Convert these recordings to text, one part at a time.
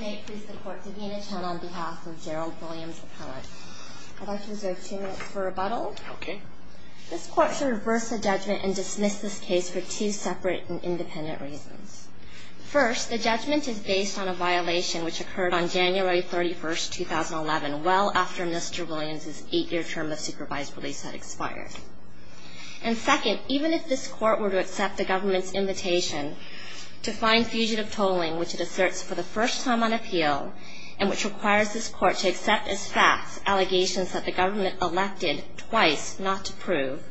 May it please the court, Davina Chun on behalf of Gerald Williams Appellate. I'd like to reserve two minutes for rebuttal. Okay. This court should reverse the judgment and dismiss this case for two separate and independent reasons. First, the judgment is based on a violation which occurred on January 31, 2011, well after Mr. Williams' eight-year term of supervised release had expired. And second, even if this court were to accept the government's invitation to fine fugitive tolling, which it asserts for the first time on appeal, and which requires this court to accept as facts allegations that the government elected twice not to prove,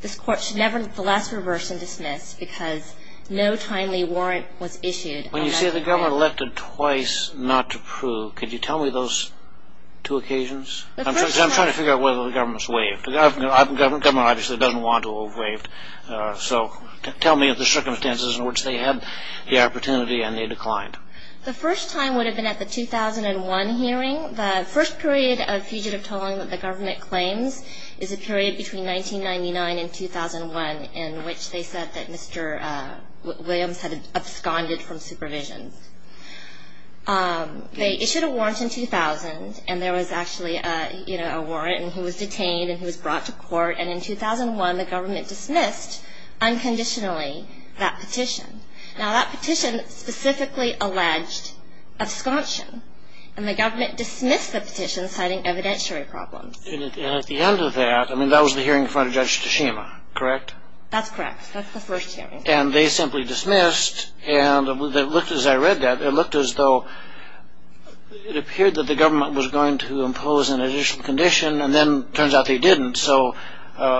this court should nevertheless reverse and dismiss because no timely warrant was issued. When you say the government elected twice not to prove, could you tell me those two occasions? I'm trying to figure out whether the government's waived. The government obviously doesn't want to waive. So tell me the circumstances in which they had the opportunity and they declined. The first time would have been at the 2001 hearing. The first period of fugitive tolling that the government claims is a period between 1999 and 2001 in which they said that Mr. Williams had absconded from supervision. They issued a warrant in 2000, and there was actually a warrant, and he was detained and he was brought to court. And in 2001, the government dismissed unconditionally that petition. Now, that petition specifically alleged absconsion, and the government dismissed the petition citing evidentiary problems. And at the end of that, I mean, that was the hearing in front of Judge Tashima, correct? That's correct. That's the first hearing. And they simply dismissed, and it looked as I read that, it looked as though it appeared that the government was going to impose an additional condition, and then it turns out they didn't, so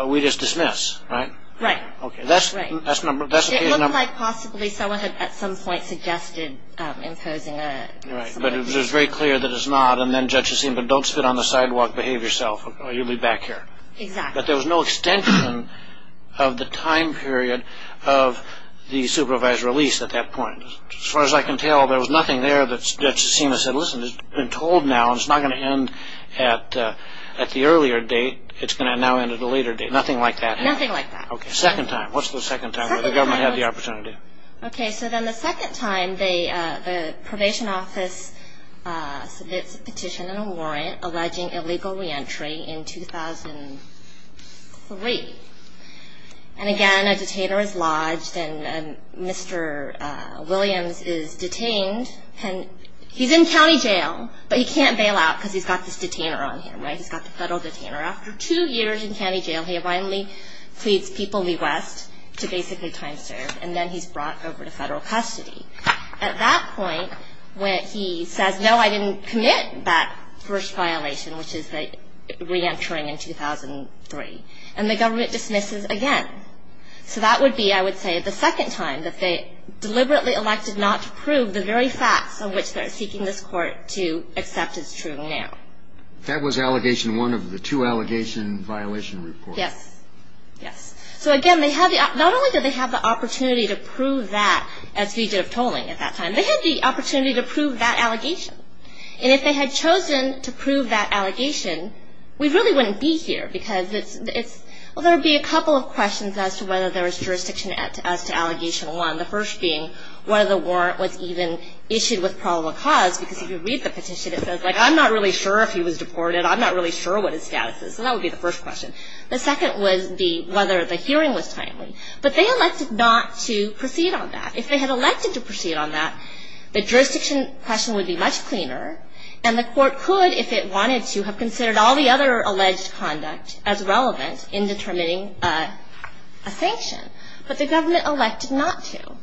we just dismiss, right? Right. That's the case number. It looked like possibly someone had at some point suggested imposing an additional condition. Right, but it was very clear that it's not, and then Judge Tashima, don't spit on the sidewalk, behave yourself, or you'll be back here. Exactly. But there was no extension of the time period of the supervised release at that point. As far as I can tell, there was nothing there that Judge Tashima said, Well, listen, it's been told now, and it's not going to end at the earlier date. It's going to now end at a later date. Nothing like that? Nothing like that. Okay, second time. What's the second time that the government had the opportunity? Okay, so then the second time, the probation office submits a petition and a warrant alleging illegal reentry in 2003. And again, a detainer is lodged, and Mr. Williams is detained. He's in county jail, but he can't bail out because he's got this detainer on him, right? He's got the federal detainer. After two years in county jail, he finally pleads People v. West to basically time serve, and then he's brought over to federal custody. At that point, when he says, No, I didn't commit that first violation, which is the reentering in 2003, and the government dismisses again. So that would be, I would say, the second time that they deliberately elected not to prove the very facts of which they're seeking this court to accept as true now. That was allegation one of the two allegation violation reports. Yes. Yes. So again, not only did they have the opportunity to prove that as fugitive tolling at that time, they had the opportunity to prove that allegation. And if they had chosen to prove that allegation, we really wouldn't be here because it's, well, there would be a couple of questions as to whether there was jurisdiction as to allegation one, the first being whether the warrant was even issued with probable cause, because if you read the petition, it says, like, I'm not really sure if he was deported. I'm not really sure what his status is. So that would be the first question. The second was whether the hearing was timely. But they elected not to proceed on that. If they had elected to proceed on that, the jurisdiction question would be much cleaner, and the court could, if it wanted to, have considered all the other alleged conduct as relevant in determining a sanction. But the government elected not to.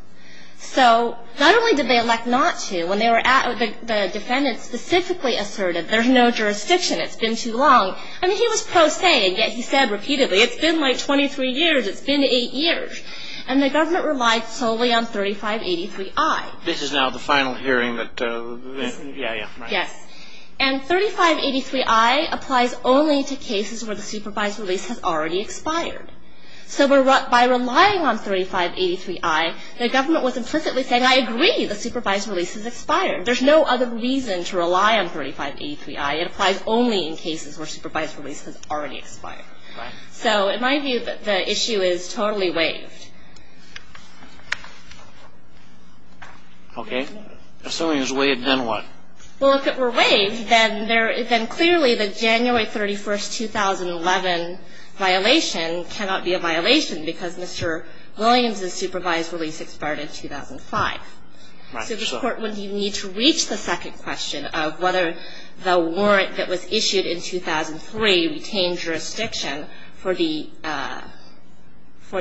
So not only did they elect not to, when they were at it, the defendant specifically asserted, there's no jurisdiction, it's been too long. I mean, he was pro se, and yet he said repeatedly, it's been, like, 23 years, it's been eight years. And the government relied solely on 3583I. This is now the final hearing that, yeah, yeah, right. Yes. And 3583I applies only to cases where the supervised release has already expired. So by relying on 3583I, the government was implicitly saying, I agree, the supervised release has expired. There's no other reason to rely on 3583I. It applies only in cases where supervised release has already expired. Right. So in my view, the issue is totally waived. Okay. Assuming it's waived, then what? Well, if it were waived, then clearly the January 31, 2011 violation cannot be a violation because Mr. Williams' supervised release expired in 2005. Right. So this Court wouldn't even need to reach the second question of whether the warrant that was issued in 2003 retained jurisdiction for the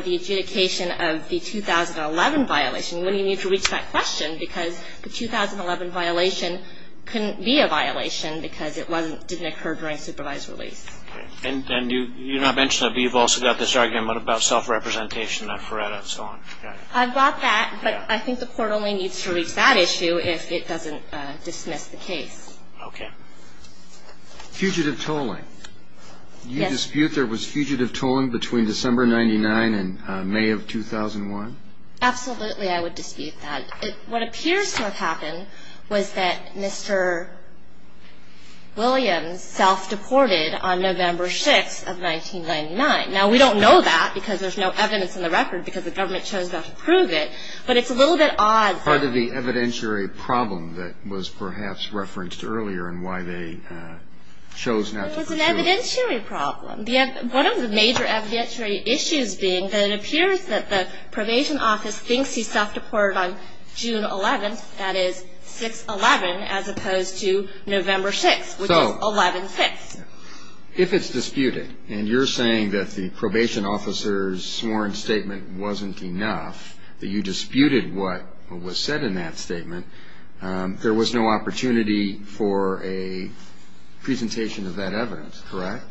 adjudication of the 2011 violation. It wouldn't even need to reach that question because the 2011 violation couldn't be a violation because it didn't occur during supervised release. Okay. And you're not mentioning that, but you've also got this argument about self-representation, that FRERETA, and so on. I've got that, but I think the Court only needs to reach that issue if it doesn't dismiss the case. Okay. Fugitive tolling. Yes. Do you dispute there was fugitive tolling between December 1999 and May of 2001? Absolutely I would dispute that. What appears to have happened was that Mr. Williams self-deported on November 6 of 1999. Now, we don't know that because there's no evidence in the record because the government chose not to prove it, but it's a little bit odd. Part of the evidentiary problem that was perhaps referenced earlier in why they chose not to prove it. It was an evidentiary problem. One of the major evidentiary issues being that it appears that the probation office thinks he self-deported on June 11, that is 6-11, as opposed to November 6, which is 11-6. If it's disputed, and you're saying that the probation officer's sworn statement wasn't enough, that you disputed what was said in that statement, there was no opportunity for a presentation of that evidence, correct?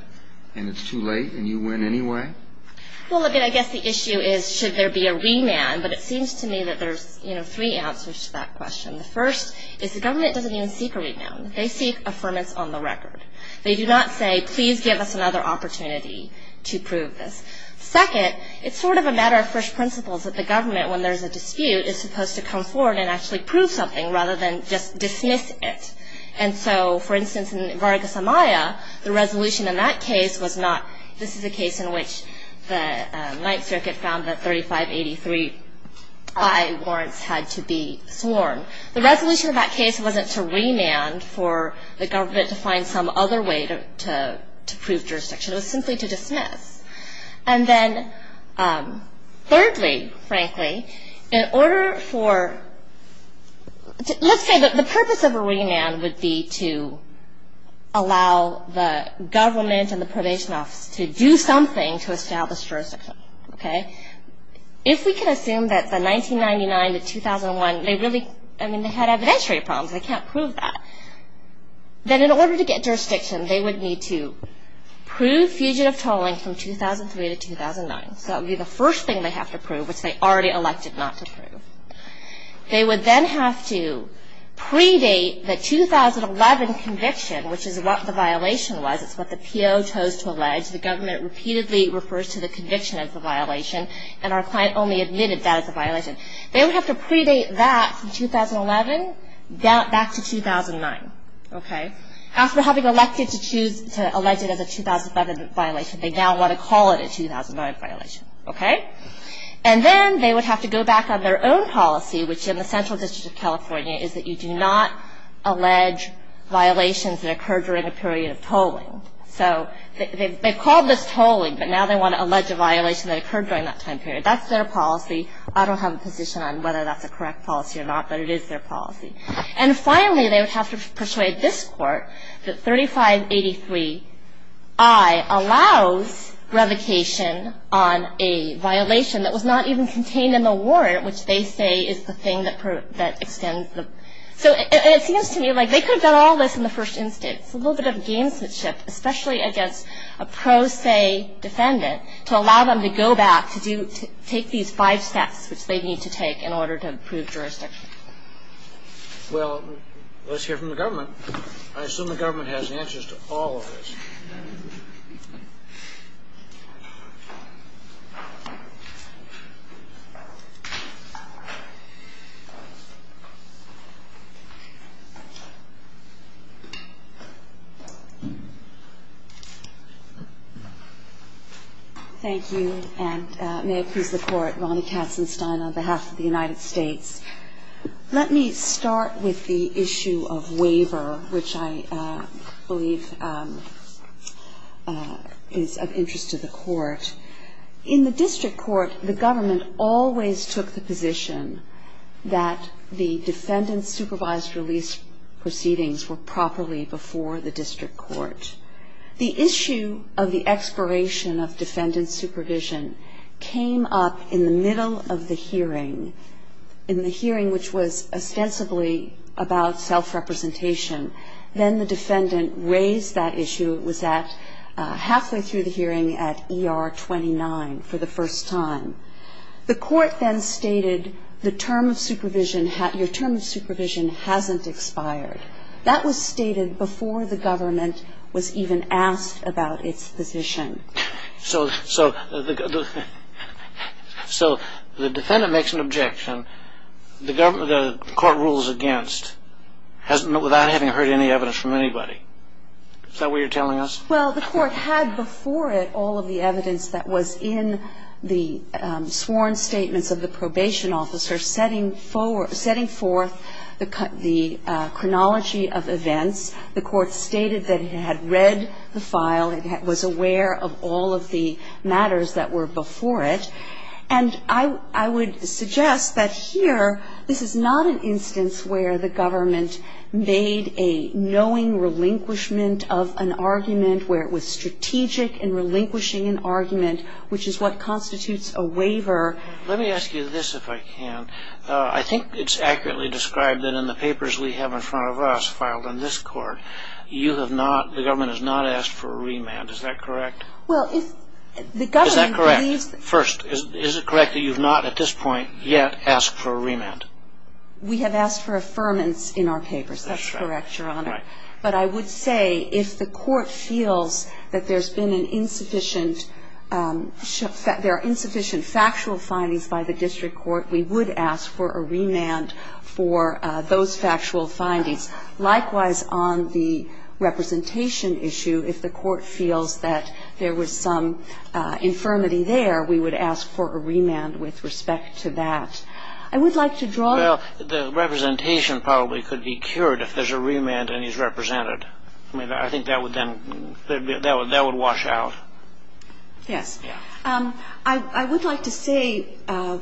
And it's too late and you win anyway? Well, I guess the issue is should there be a remand? But it seems to me that there's three answers to that question. The first is the government doesn't even seek a remand. They seek affirmance on the record. They do not say, please give us another opportunity to prove this. Second, it's sort of a matter of first principles that the government, when there's a dispute, is supposed to come forward and actually prove something rather than just dismiss it. And so, for instance, in Vargas Amaya, the resolution in that case was not, this is a case in which the Ninth Circuit found that 3583I warrants had to be sworn. The resolution in that case wasn't to remand for the government to find some other way to prove jurisdiction. It was simply to dismiss. And then thirdly, frankly, in order for, let's say the purpose of a remand would be to allow the government and the probation office to do something to establish jurisdiction, okay? If we can assume that the 1999 to 2001, they really, I mean, they had evidentiary problems. They can't prove that. Then in order to get jurisdiction, they would need to prove fugitive tolling from 2003 to 2009. So that would be the first thing they have to prove, which they already elected not to prove. They would then have to predate the 2011 conviction, which is what the violation was. It's what the PO chose to allege. The government repeatedly refers to the conviction as a violation, and our client only admitted that as a violation. They would have to predate that from 2011 back to 2009, okay? After having elected to choose to allege it as a 2011 violation, they now want to call it a 2009 violation, okay? And then they would have to go back on their own policy, which in the Central District of California is that you do not allege violations that occur during a period of tolling. So they've called this tolling, but now they want to allege a violation that occurred during that time period. That's their policy. I don't have a position on whether that's a correct policy or not, but it is their policy. And finally, they would have to persuade this Court that 3583I allows revocation on a violation that was not even contained in the warrant, which they say is the thing that extends the – so it seems to me like they could have done all this in the first instance. It's a little bit of gamesmanship, especially against a pro se defendant, to allow them to go back to take these five steps which they need to take in order to prove jurisdiction. Well, let's hear from the government. I assume the government has answers to all of this. Thank you, and may it please the Court, Ronnie Katzenstein on behalf of the United States. Let me start with the issue of waiver, which I believe is of interest to the Court. In the district court, the government always took the position that the defendant-supervised release proceedings were properly before the district court. The issue of the expiration of defendant supervision came up in the middle of the hearing, in the hearing which was ostensibly about self-representation. Then the defendant raised that issue. It was at – halfway through the hearing at ER 29 for the first time. The Court then stated the term of supervision – your term of supervision hasn't expired. That was stated before the government was even asked about its position. So the defendant makes an objection. The court rules against without having heard any evidence from anybody. Is that what you're telling us? Well, the Court had before it all of the evidence that was in the sworn statements of the probation officer setting forth the chronology of events. The Court stated that it had read the file. It was aware of all of the matters that were before it. And I would suggest that here, this is not an instance where the government made a knowing relinquishment of an argument, where it was strategic in relinquishing an argument, which is what constitutes a waiver. Let me ask you this, if I can. I think it's accurately described that in the papers we have in front of us filed in this Court, you have not – the government has not asked for a remand. Is that correct? Well, if the government believes that – First, is it correct that you have not at this point yet asked for a remand? We have asked for affirmance in our papers. That's correct, Your Honor. Right. But I would say if the Court feels that there's been an insufficient – that there are insufficient factual findings by the district court, we would ask for a remand for those factual findings. Likewise, on the representation issue, if the Court feels that there was some infirmity there, we would ask for a remand with respect to that. I would like to draw – Well, the representation probably could be cured if there's a remand and he's represented. I mean, I think that would then – that would wash out. Yes. Yeah. I would like to say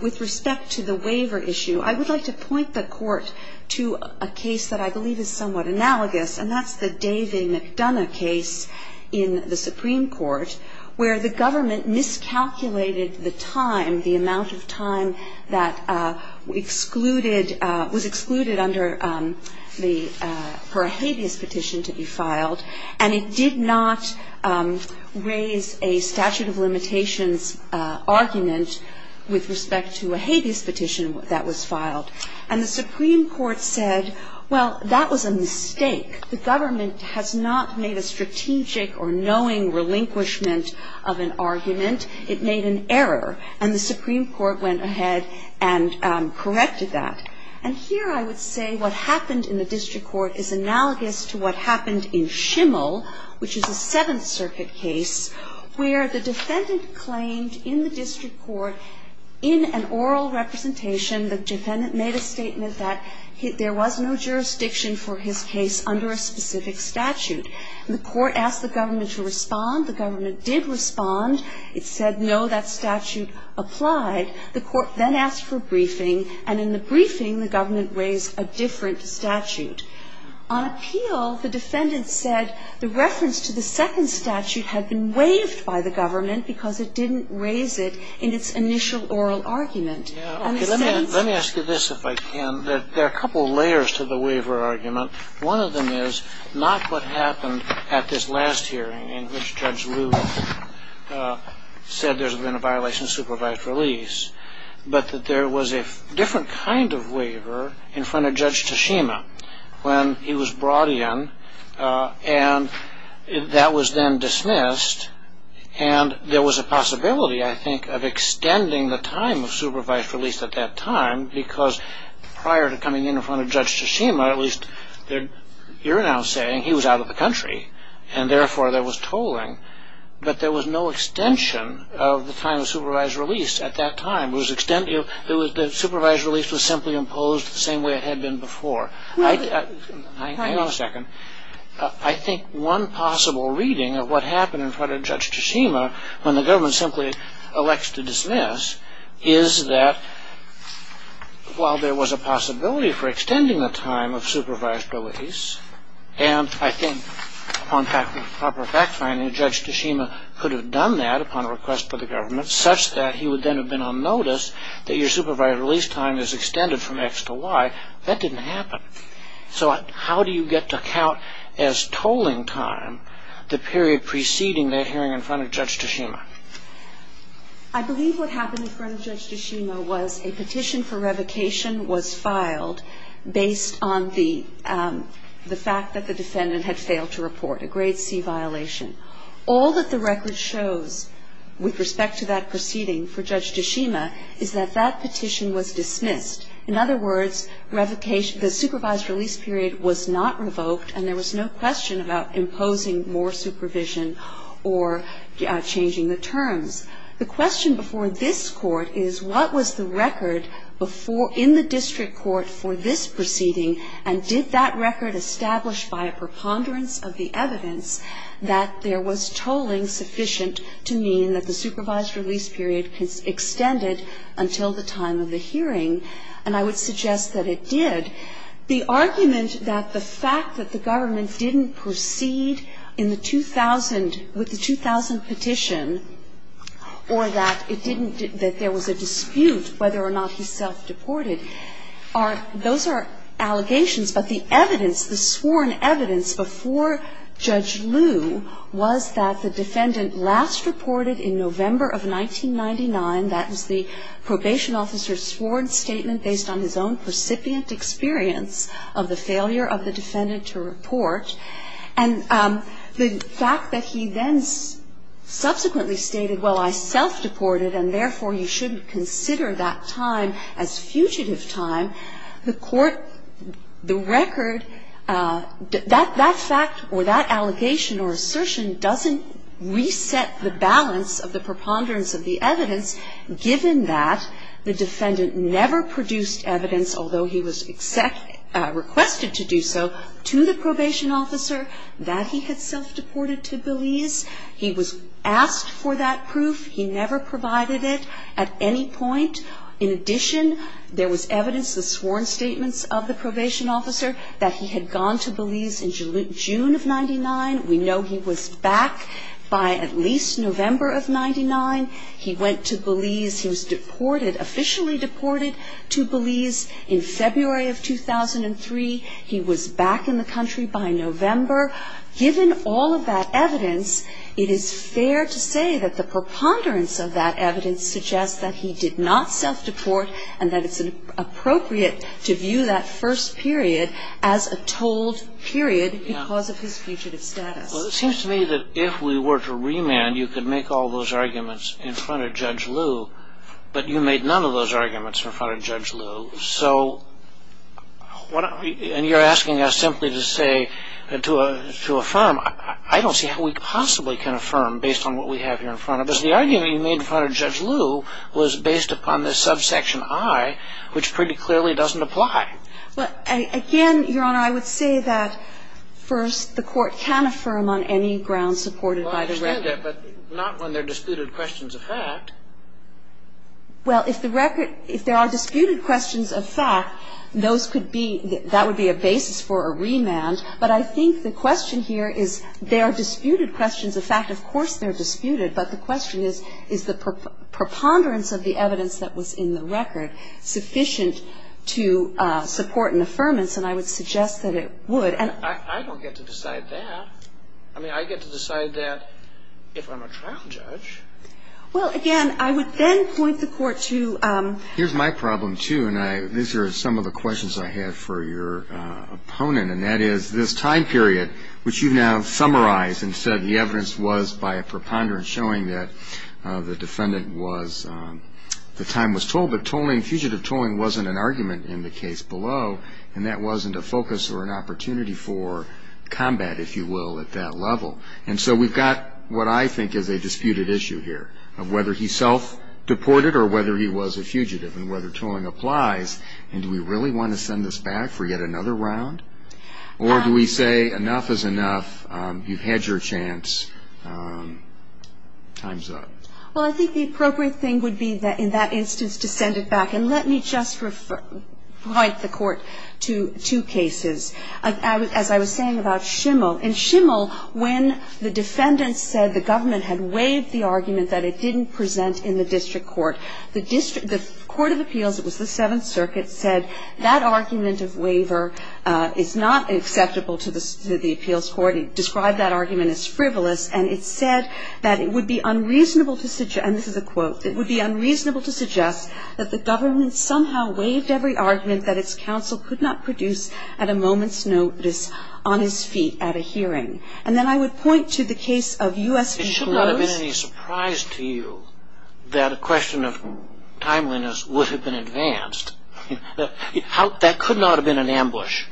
with respect to the waiver issue, I would like to point the Court to a case that I believe is somewhat analogous, and that's the Davey-McDonough case in the Supreme Court, where the government miscalculated the time, the amount of time that excluded – was excluded under the – for a habeas petition to be filed, and it did not raise a statute of limitations argument with respect to a habeas petition that was filed. And the Supreme Court said, well, that was a mistake. The government has not made a strategic or knowing relinquishment of an argument. It made an error. And the Supreme Court went ahead and corrected that. And here I would say what happened in the district court is analogous to what happened in Schimmel, which is a Seventh Circuit case, where the defendant claimed in the district court, in an oral representation, the defendant made a statement that there was no jurisdiction for his case under a specific statute. And the court asked the government to respond. The government did respond. It said, no, that statute applied. The court then asked for a briefing, and in the briefing, the government raised a different statute. On appeal, the defendant said the reference to the second statute had been waived by the government because it didn't raise it in its initial oral argument. Let me ask you this, if I can. There are a couple of layers to the waiver argument. One of them is not what happened at this last hearing in which Judge Rubin said there's been a violation of supervised release, but that there was a different kind of waiver in front of Judge Tashima when he was brought in, and that was then dismissed. And there was a possibility, I think, of extending the time of supervised release at that time because prior to coming in in front of Judge Tashima, at least you're now saying he was out of the country, and therefore there was tolling. But there was no extension of the time of supervised release at that time. The supervised release was simply imposed the same way it had been before. Hang on a second. I think one possible reading of what happened in front of Judge Tashima when the government simply elects to dismiss is that while there was a possibility for extending the time of supervised release, and I think upon proper fact-finding, Judge Tashima could have done that upon request by the government, such that he would then have been on notice that your supervised release time is extended from X to Y. That didn't happen. So how do you get to count as tolling time the period preceding that hearing in front of Judge Tashima? I believe what happened in front of Judge Tashima was a petition for revocation was filed based on the fact that the defendant had failed to report a grade C violation. All that the record shows with respect to that proceeding for Judge Tashima is that that petition was dismissed. In other words, the supervised release period was not revoked and there was no question about imposing more supervision or changing the terms. The question before this Court is what was the record in the district court for this proceeding and did that record establish by a preponderance of the evidence that there was tolling sufficient to mean that the supervised release period extended until the time of the hearing? And I would suggest that it did. The argument that the fact that the government didn't proceed in the 2000, with the 2000 petition, or that it didn't, that there was a dispute whether or not he self-deported are, those are allegations, but the evidence, the sworn evidence before Judge Liu was that the defendant last reported in November of 1999. That was the probation officer's sworn statement based on his own recipient experience of the failure of the defendant to report. And the fact that he then subsequently stated, well, I self-deported and therefore you shouldn't consider that time as fugitive time. The Court, the record, that fact or that allegation or assertion doesn't reset the balance of the preponderance of the evidence given that the defendant never produced evidence, although he was requested to do so, to the probation officer that he had self-deported to Belize. He was asked for that proof. He never provided it at any point. In addition, there was evidence, the sworn statements of the probation officer, that he had gone to Belize in June of 99. We know he was back by at least November of 99. He went to Belize. He was deported, officially deported to Belize in February of 2003. He was back in the country by November. Given all of that evidence, it is fair to say that the preponderance of that evidence suggests that he did not self-deport and that it's appropriate to view that first period as a told period because of his fugitive status. Well, it seems to me that if we were to remand, you could make all those arguments in front of Judge Liu, but you made none of those arguments in front of Judge Liu. So you're asking us simply to say, to affirm. I don't see how we possibly can affirm based on what we have here in front of us. Because the argument you made in front of Judge Liu was based upon this subsection I, which pretty clearly doesn't apply. Well, again, Your Honor, I would say that, first, the Court can affirm on any ground supported by the record. Well, I understand that, but not when there are disputed questions of fact. Well, if the record – if there are disputed questions of fact, those could be – that would be a basis for a remand. But I think the question here is there are disputed questions of fact. Of course, they're disputed. But the question is, is the preponderance of the evidence that was in the record sufficient to support an affirmance? And I would suggest that it would. I don't get to decide that. I mean, I get to decide that if I'm a trial judge. Well, again, I would then point the Court to – Here's my problem, too, and these are some of the questions I had for your opponent. And that is, this time period, which you've now summarized and said the evidence was by a preponderance showing that the defendant was – the time was told. But tolling – fugitive tolling wasn't an argument in the case below, and that wasn't a focus or an opportunity for combat, if you will, at that level. And so we've got what I think is a disputed issue here of whether he self-deported or whether he was a fugitive and whether tolling applies. And do we really want to send this back for yet another round? Or do we say enough is enough, you've had your chance, time's up? Well, I think the appropriate thing would be in that instance to send it back. And let me just point the Court to two cases. As I was saying about Schimmel. In Schimmel, when the defendant said the government had waived the argument that it didn't present in the district court, the court of appeals, it was the Seventh Circuit, said that argument of waiver is not acceptable to the appeals court. It described that argument as frivolous. And it said that it would be unreasonable to – and this is a quote – it would be unreasonable to suggest that the government somehow waived every argument that its counsel could not produce at a moment's notice on his feet at a hearing. And then I would point to the case of U.S. v. Rhodes. Would it have been any surprise to you that a question of timeliness would have been advanced? That could not have been an ambush.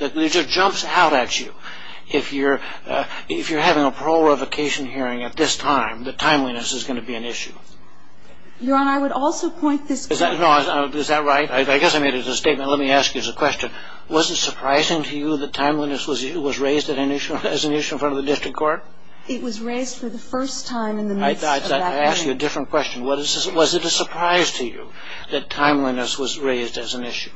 It just jumps out at you. If you're having a parole or a vacation hearing at this time, that timeliness is going to be an issue. Your Honor, I would also point this – Is that right? I guess I made it as a statement. Let me ask you as a question. Was it surprising to you that timeliness was raised as an issue in front of the district court? It was raised for the first time in the midst of that hearing. Let me ask you a different question. Was it a surprise to you that timeliness was raised as an issue?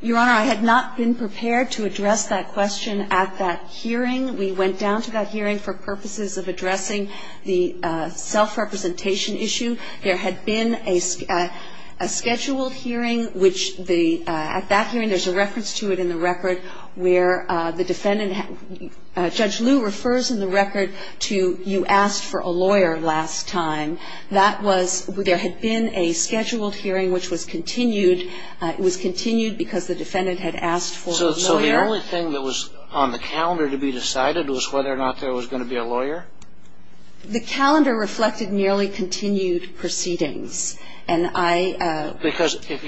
Your Honor, I had not been prepared to address that question at that hearing. We went down to that hearing for purposes of addressing the self-representation issue. There had been a scheduled hearing, which the – at that hearing, there's a reference to it in the record where the defendant – Judge Liu refers in the record to you asked for a lawyer last time. That was – there had been a scheduled hearing, which was continued. It was continued because the defendant had asked for a lawyer. So the only thing that was on the calendar to be decided was whether or not there was going to be a lawyer? The calendar reflected nearly continued proceedings. And I – Because if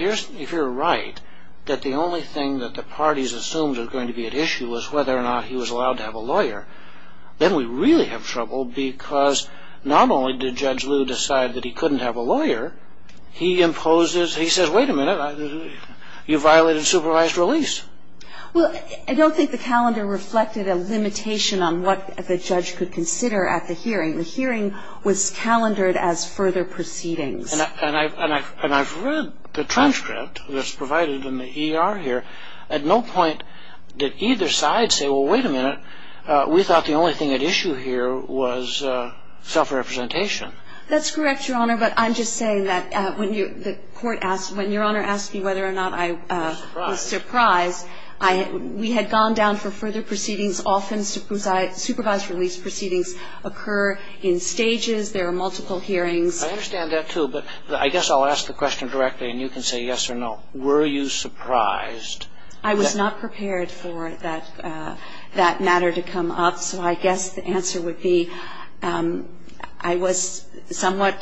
you're right, that the only thing that the parties assumed was going to be at issue was whether or not he was allowed to have a lawyer, then we really have trouble because not only did Judge Liu decide that he couldn't have a lawyer, he imposes – he says, wait a minute, you violated supervised release. Well, I don't think the calendar reflected a limitation on what the judge could consider at the hearing. The hearing was calendared as further proceedings. And I've read the transcript that's provided in the ER here. At no point did either side say, well, wait a minute, we thought the only thing at issue here was self-representation. That's correct, Your Honor, but I'm just saying that when you – the court asked – when Your Honor asked me whether or not I was surprised, I – we had gone down for further proceedings. Often supervised release proceedings occur in stages. There are multiple hearings. I understand that, too, but I guess I'll ask the question directly and you can say yes or no. Were you surprised? I was not prepared for that matter to come up, so I guess the answer would be I was somewhat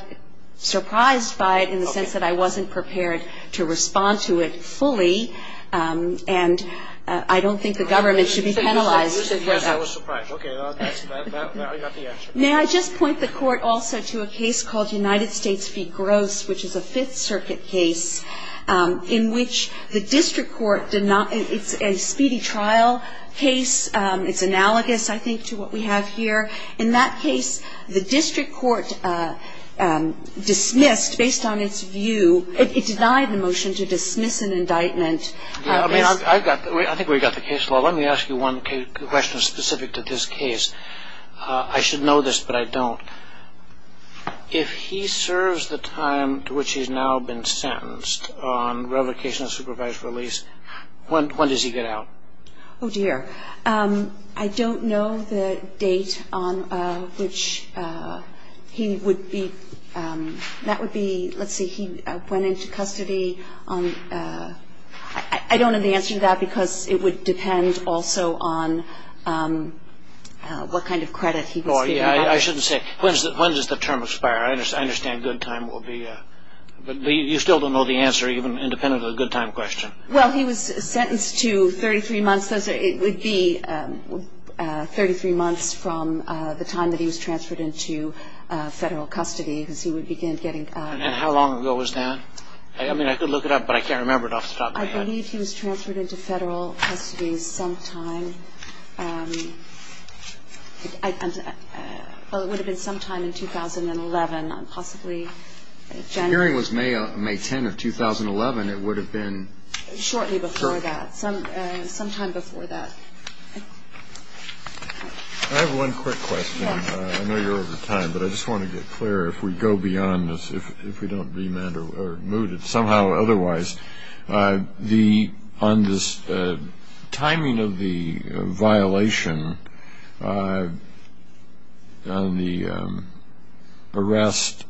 surprised by it in the sense that I wasn't prepared to respond to it fully. And I don't think the government should be penalized for that. You said yes, I was surprised. Okay. That was the answer. May I just point the court also to a case called United States v. Gross, which is a Fifth Circuit case, in which the district court did not – it's a speedy trial case. It's analogous, I think, to what we have here. In that case, the district court dismissed, based on its view – it denied the motion to dismiss an indictment. I mean, I've got – I think we've got the case law. Let me ask you one question specific to this case. I should know this, but I don't. If he serves the time to which he's now been sentenced on revocation of supervised release, when does he get out? Oh, dear. I don't know the date on which he would be – that would be – let's see, he went into custody on – I don't have the answer to that because it would depend also on what kind of credit he was given. Oh, yeah. I shouldn't say – when does the term expire? I understand good time will be – but you still don't know the answer, even independent of the good time question. Well, he was sentenced to 33 months. It would be 33 months from the time that he was transferred into federal custody, because he would begin getting – And how long ago was that? I mean, I could look it up, but I can't remember it off the top of my head. I believe he was transferred into federal custody sometime – well, it would have been sometime in 2011, possibly January. The hearing was May 10 of 2011. It would have been – Shortly before that, sometime before that. I have one quick question. I know you're over time, but I just want to get clear. If we go beyond this, if we don't be mad or mooted somehow otherwise, the – on this timing of the violation on the arrest,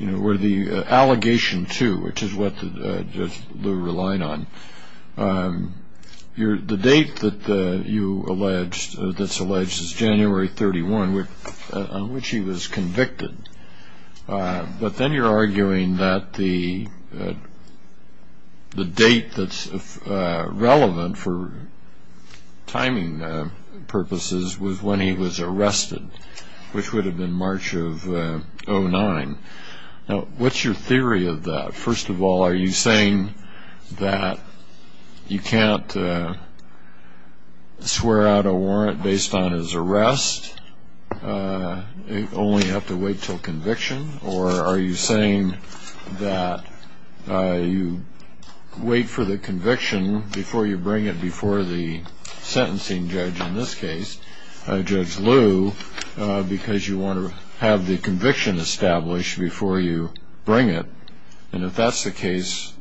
you know, or the allegation to, which is what Judge Lew relied on, the date that you alleged – that's alleged is January 31, on which he was convicted. But then you're arguing that the date that's relevant for timing purposes was when he was arrested, which would have been March of 2009. Now, what's your theory of that? First of all, are you saying that you can't swear out a warrant based on his arrest? You only have to wait until conviction? Or are you saying that you wait for the conviction before you bring it before the sentencing judge in this case, Judge Lew, because you want to have the conviction established before you bring it? And if that's the case,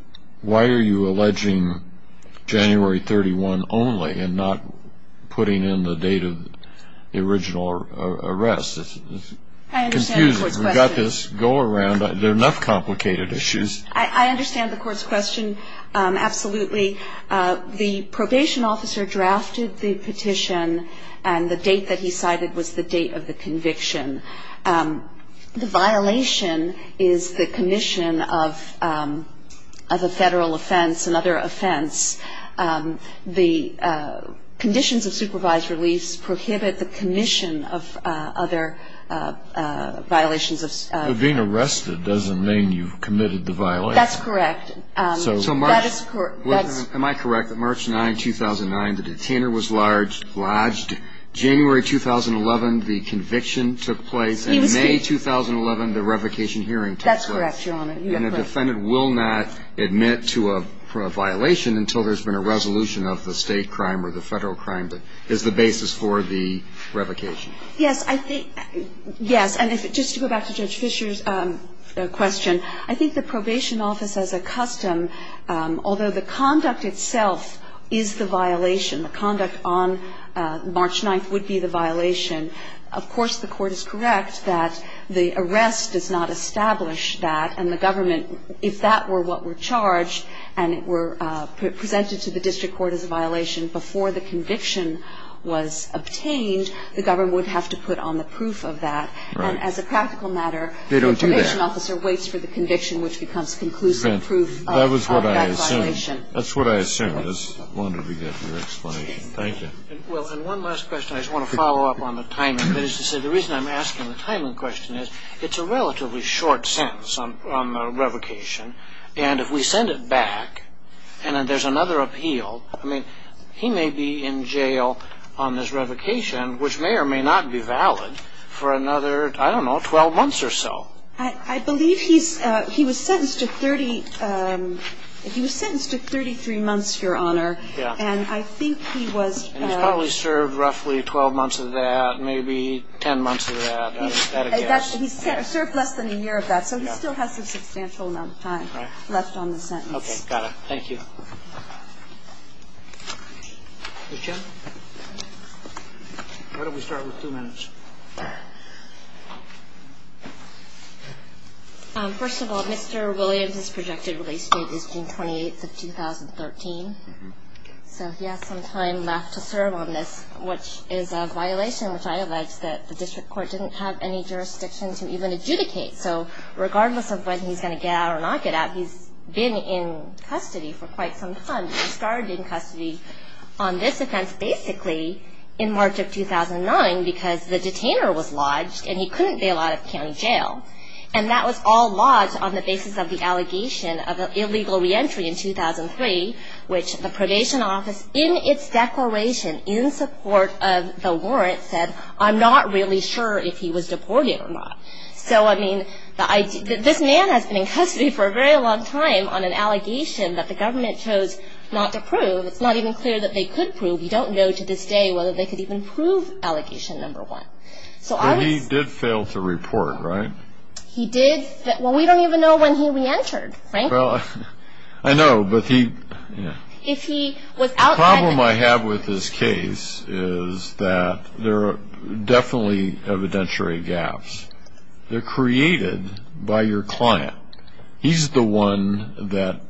why are you alleging January 31 only and not putting in the date of the original arrest? It's confusing. I understand the court's question. We've got this go-around. There are enough complicated issues. I understand the court's question, absolutely. The probation officer drafted the petition, and the date that he cited was the date of the conviction. The violation is the commission of a federal offense, another offense. The conditions of supervised release prohibit the commission of other violations. But being arrested doesn't mean you've committed the violation. That's correct. Am I correct that March 9, 2009, the detainer was lodged. January 2011, the conviction took place. He was state. And May 2011, the revocation hearing took place. That's correct, Your Honor. And a defendant will not admit to a violation until there's been a resolution of the state crime or the federal crime that is the basis for the revocation. Yes, I think, yes. And just to go back to Judge Fisher's question, I think the probation office, as a custom, although the conduct itself is the violation, the conduct on March 9 would be the violation, of course the court is correct that the arrest does not establish that. And the government, if that were what were charged and it were presented to the district court as a violation before the conviction was obtained, the government would have to put on the proof of that. And as a practical matter, the probation officer waits for the conviction which becomes conclusive proof of that violation. That was what I assumed. That's what I assumed. I just wanted to get your explanation. Thank you. Well, and one last question. I just want to follow up on the timing. That is to say the reason I'm asking the timing question is it's a relatively short sentence on revocation. And if we send it back and then there's another appeal, I mean, he may be in jail on this revocation which may or may not be valid for another, I don't know, 12 months or so. I believe he's, he was sentenced to 30, he was sentenced to 33 months, Your Honor. Yeah. And I think he was. And he's probably served roughly 12 months of that, maybe 10 months of that. He's served less than a year of that. So he still has a substantial amount of time left on the sentence. Okay. Thank you. Ms. Chen. Why don't we start with two minutes? First of all, Mr. Williams' projected release date is June 28th of 2013. So he has some time left to serve on this, which is a violation which I allege that the district court didn't have any jurisdiction to even adjudicate. So regardless of when he's going to get out or not get out, he's been in custody for quite some time. He started in custody on this offense basically in March of 2009 because the detainer was lodged and he couldn't bail out of county jail. And that was all lodged on the basis of the allegation of an illegal reentry in 2003, which the probation office, in its declaration, in support of the warrant, said I'm not really sure if he was deported or not. So, I mean, this man has been in custody for a very long time on an allegation that the government chose not to prove. It's not even clear that they could prove. We don't know to this day whether they could even prove allegation number one. But he did fail to report, right? He did. Well, we don't even know when he reentered, frankly. I know, but the problem I have with this case is that there are definitely evidentiary gaps. They're created by your client. He's the one that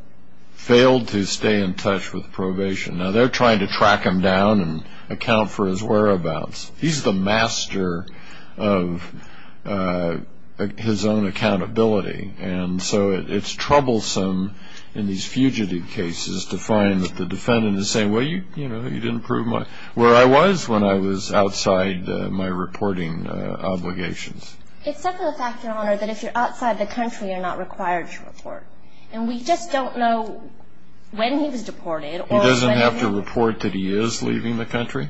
failed to stay in touch with probation. Now, they're trying to track him down and account for his whereabouts. He's the master of his own accountability. And so it's troublesome in these fugitive cases to find that the defendant is saying, well, you know, you didn't prove where I was when I was outside my reporting obligations. Except for the fact, Your Honor, that if you're outside the country, you're not required to report. And we just don't know when he was deported. He doesn't have to report that he is leaving the country?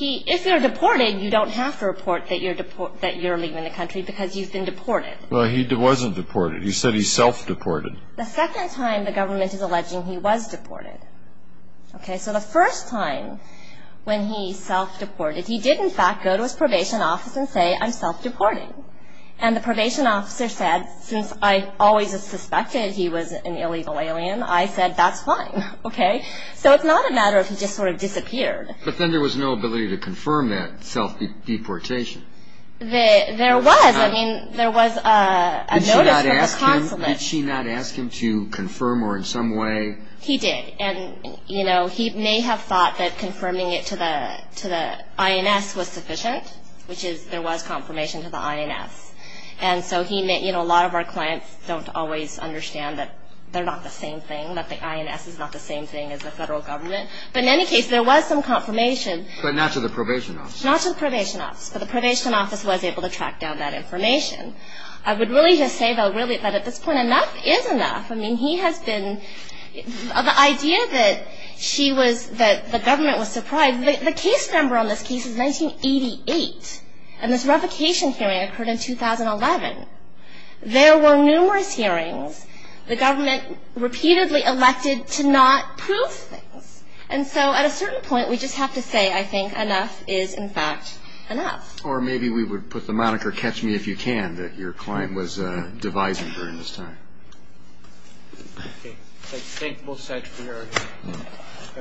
If you're deported, you don't have to report that you're leaving the country because you've been deported. Well, he wasn't deported. He said he self-deported. The second time the government is alleging he was deported. Okay? So the first time when he self-deported, he did, in fact, go to his probation office and say, I'm self-deporting. And the probation officer said, since I always suspected he was an illegal alien, I said, that's fine. Okay? So it's not a matter of he just sort of disappeared. But then there was no ability to confirm that self-deportation. There was. I mean, there was a notice from the consulate. Did she not ask him to confirm or in some way? He did. And, you know, he may have thought that confirming it to the INS was sufficient, which is there was confirmation to the INS. And so he may, you know, a lot of our clients don't always understand that they're not the same thing, that the INS is not the same thing as the federal government. But in any case, there was some confirmation. But not to the probation office? Not to the probation office. But the probation office was able to track down that information. I would really just say, though, really, that at this point, enough is enough. I mean, he has been, the idea that she was, that the government was surprised. The case number on this case is 1988. And this revocation hearing occurred in 2011. There were numerous hearings. The government repeatedly elected to not prove things. And so at a certain point, we just have to say, I think, enough is, in fact, enough. Or maybe we would put the moniker, catch me if you can, that your client was devising during this time. Thank both sides for your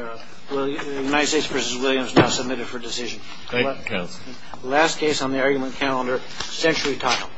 argument. United States v. Williams, now submitted for decision. Thank you, counsel. Last case on the argument calendar, Century Title.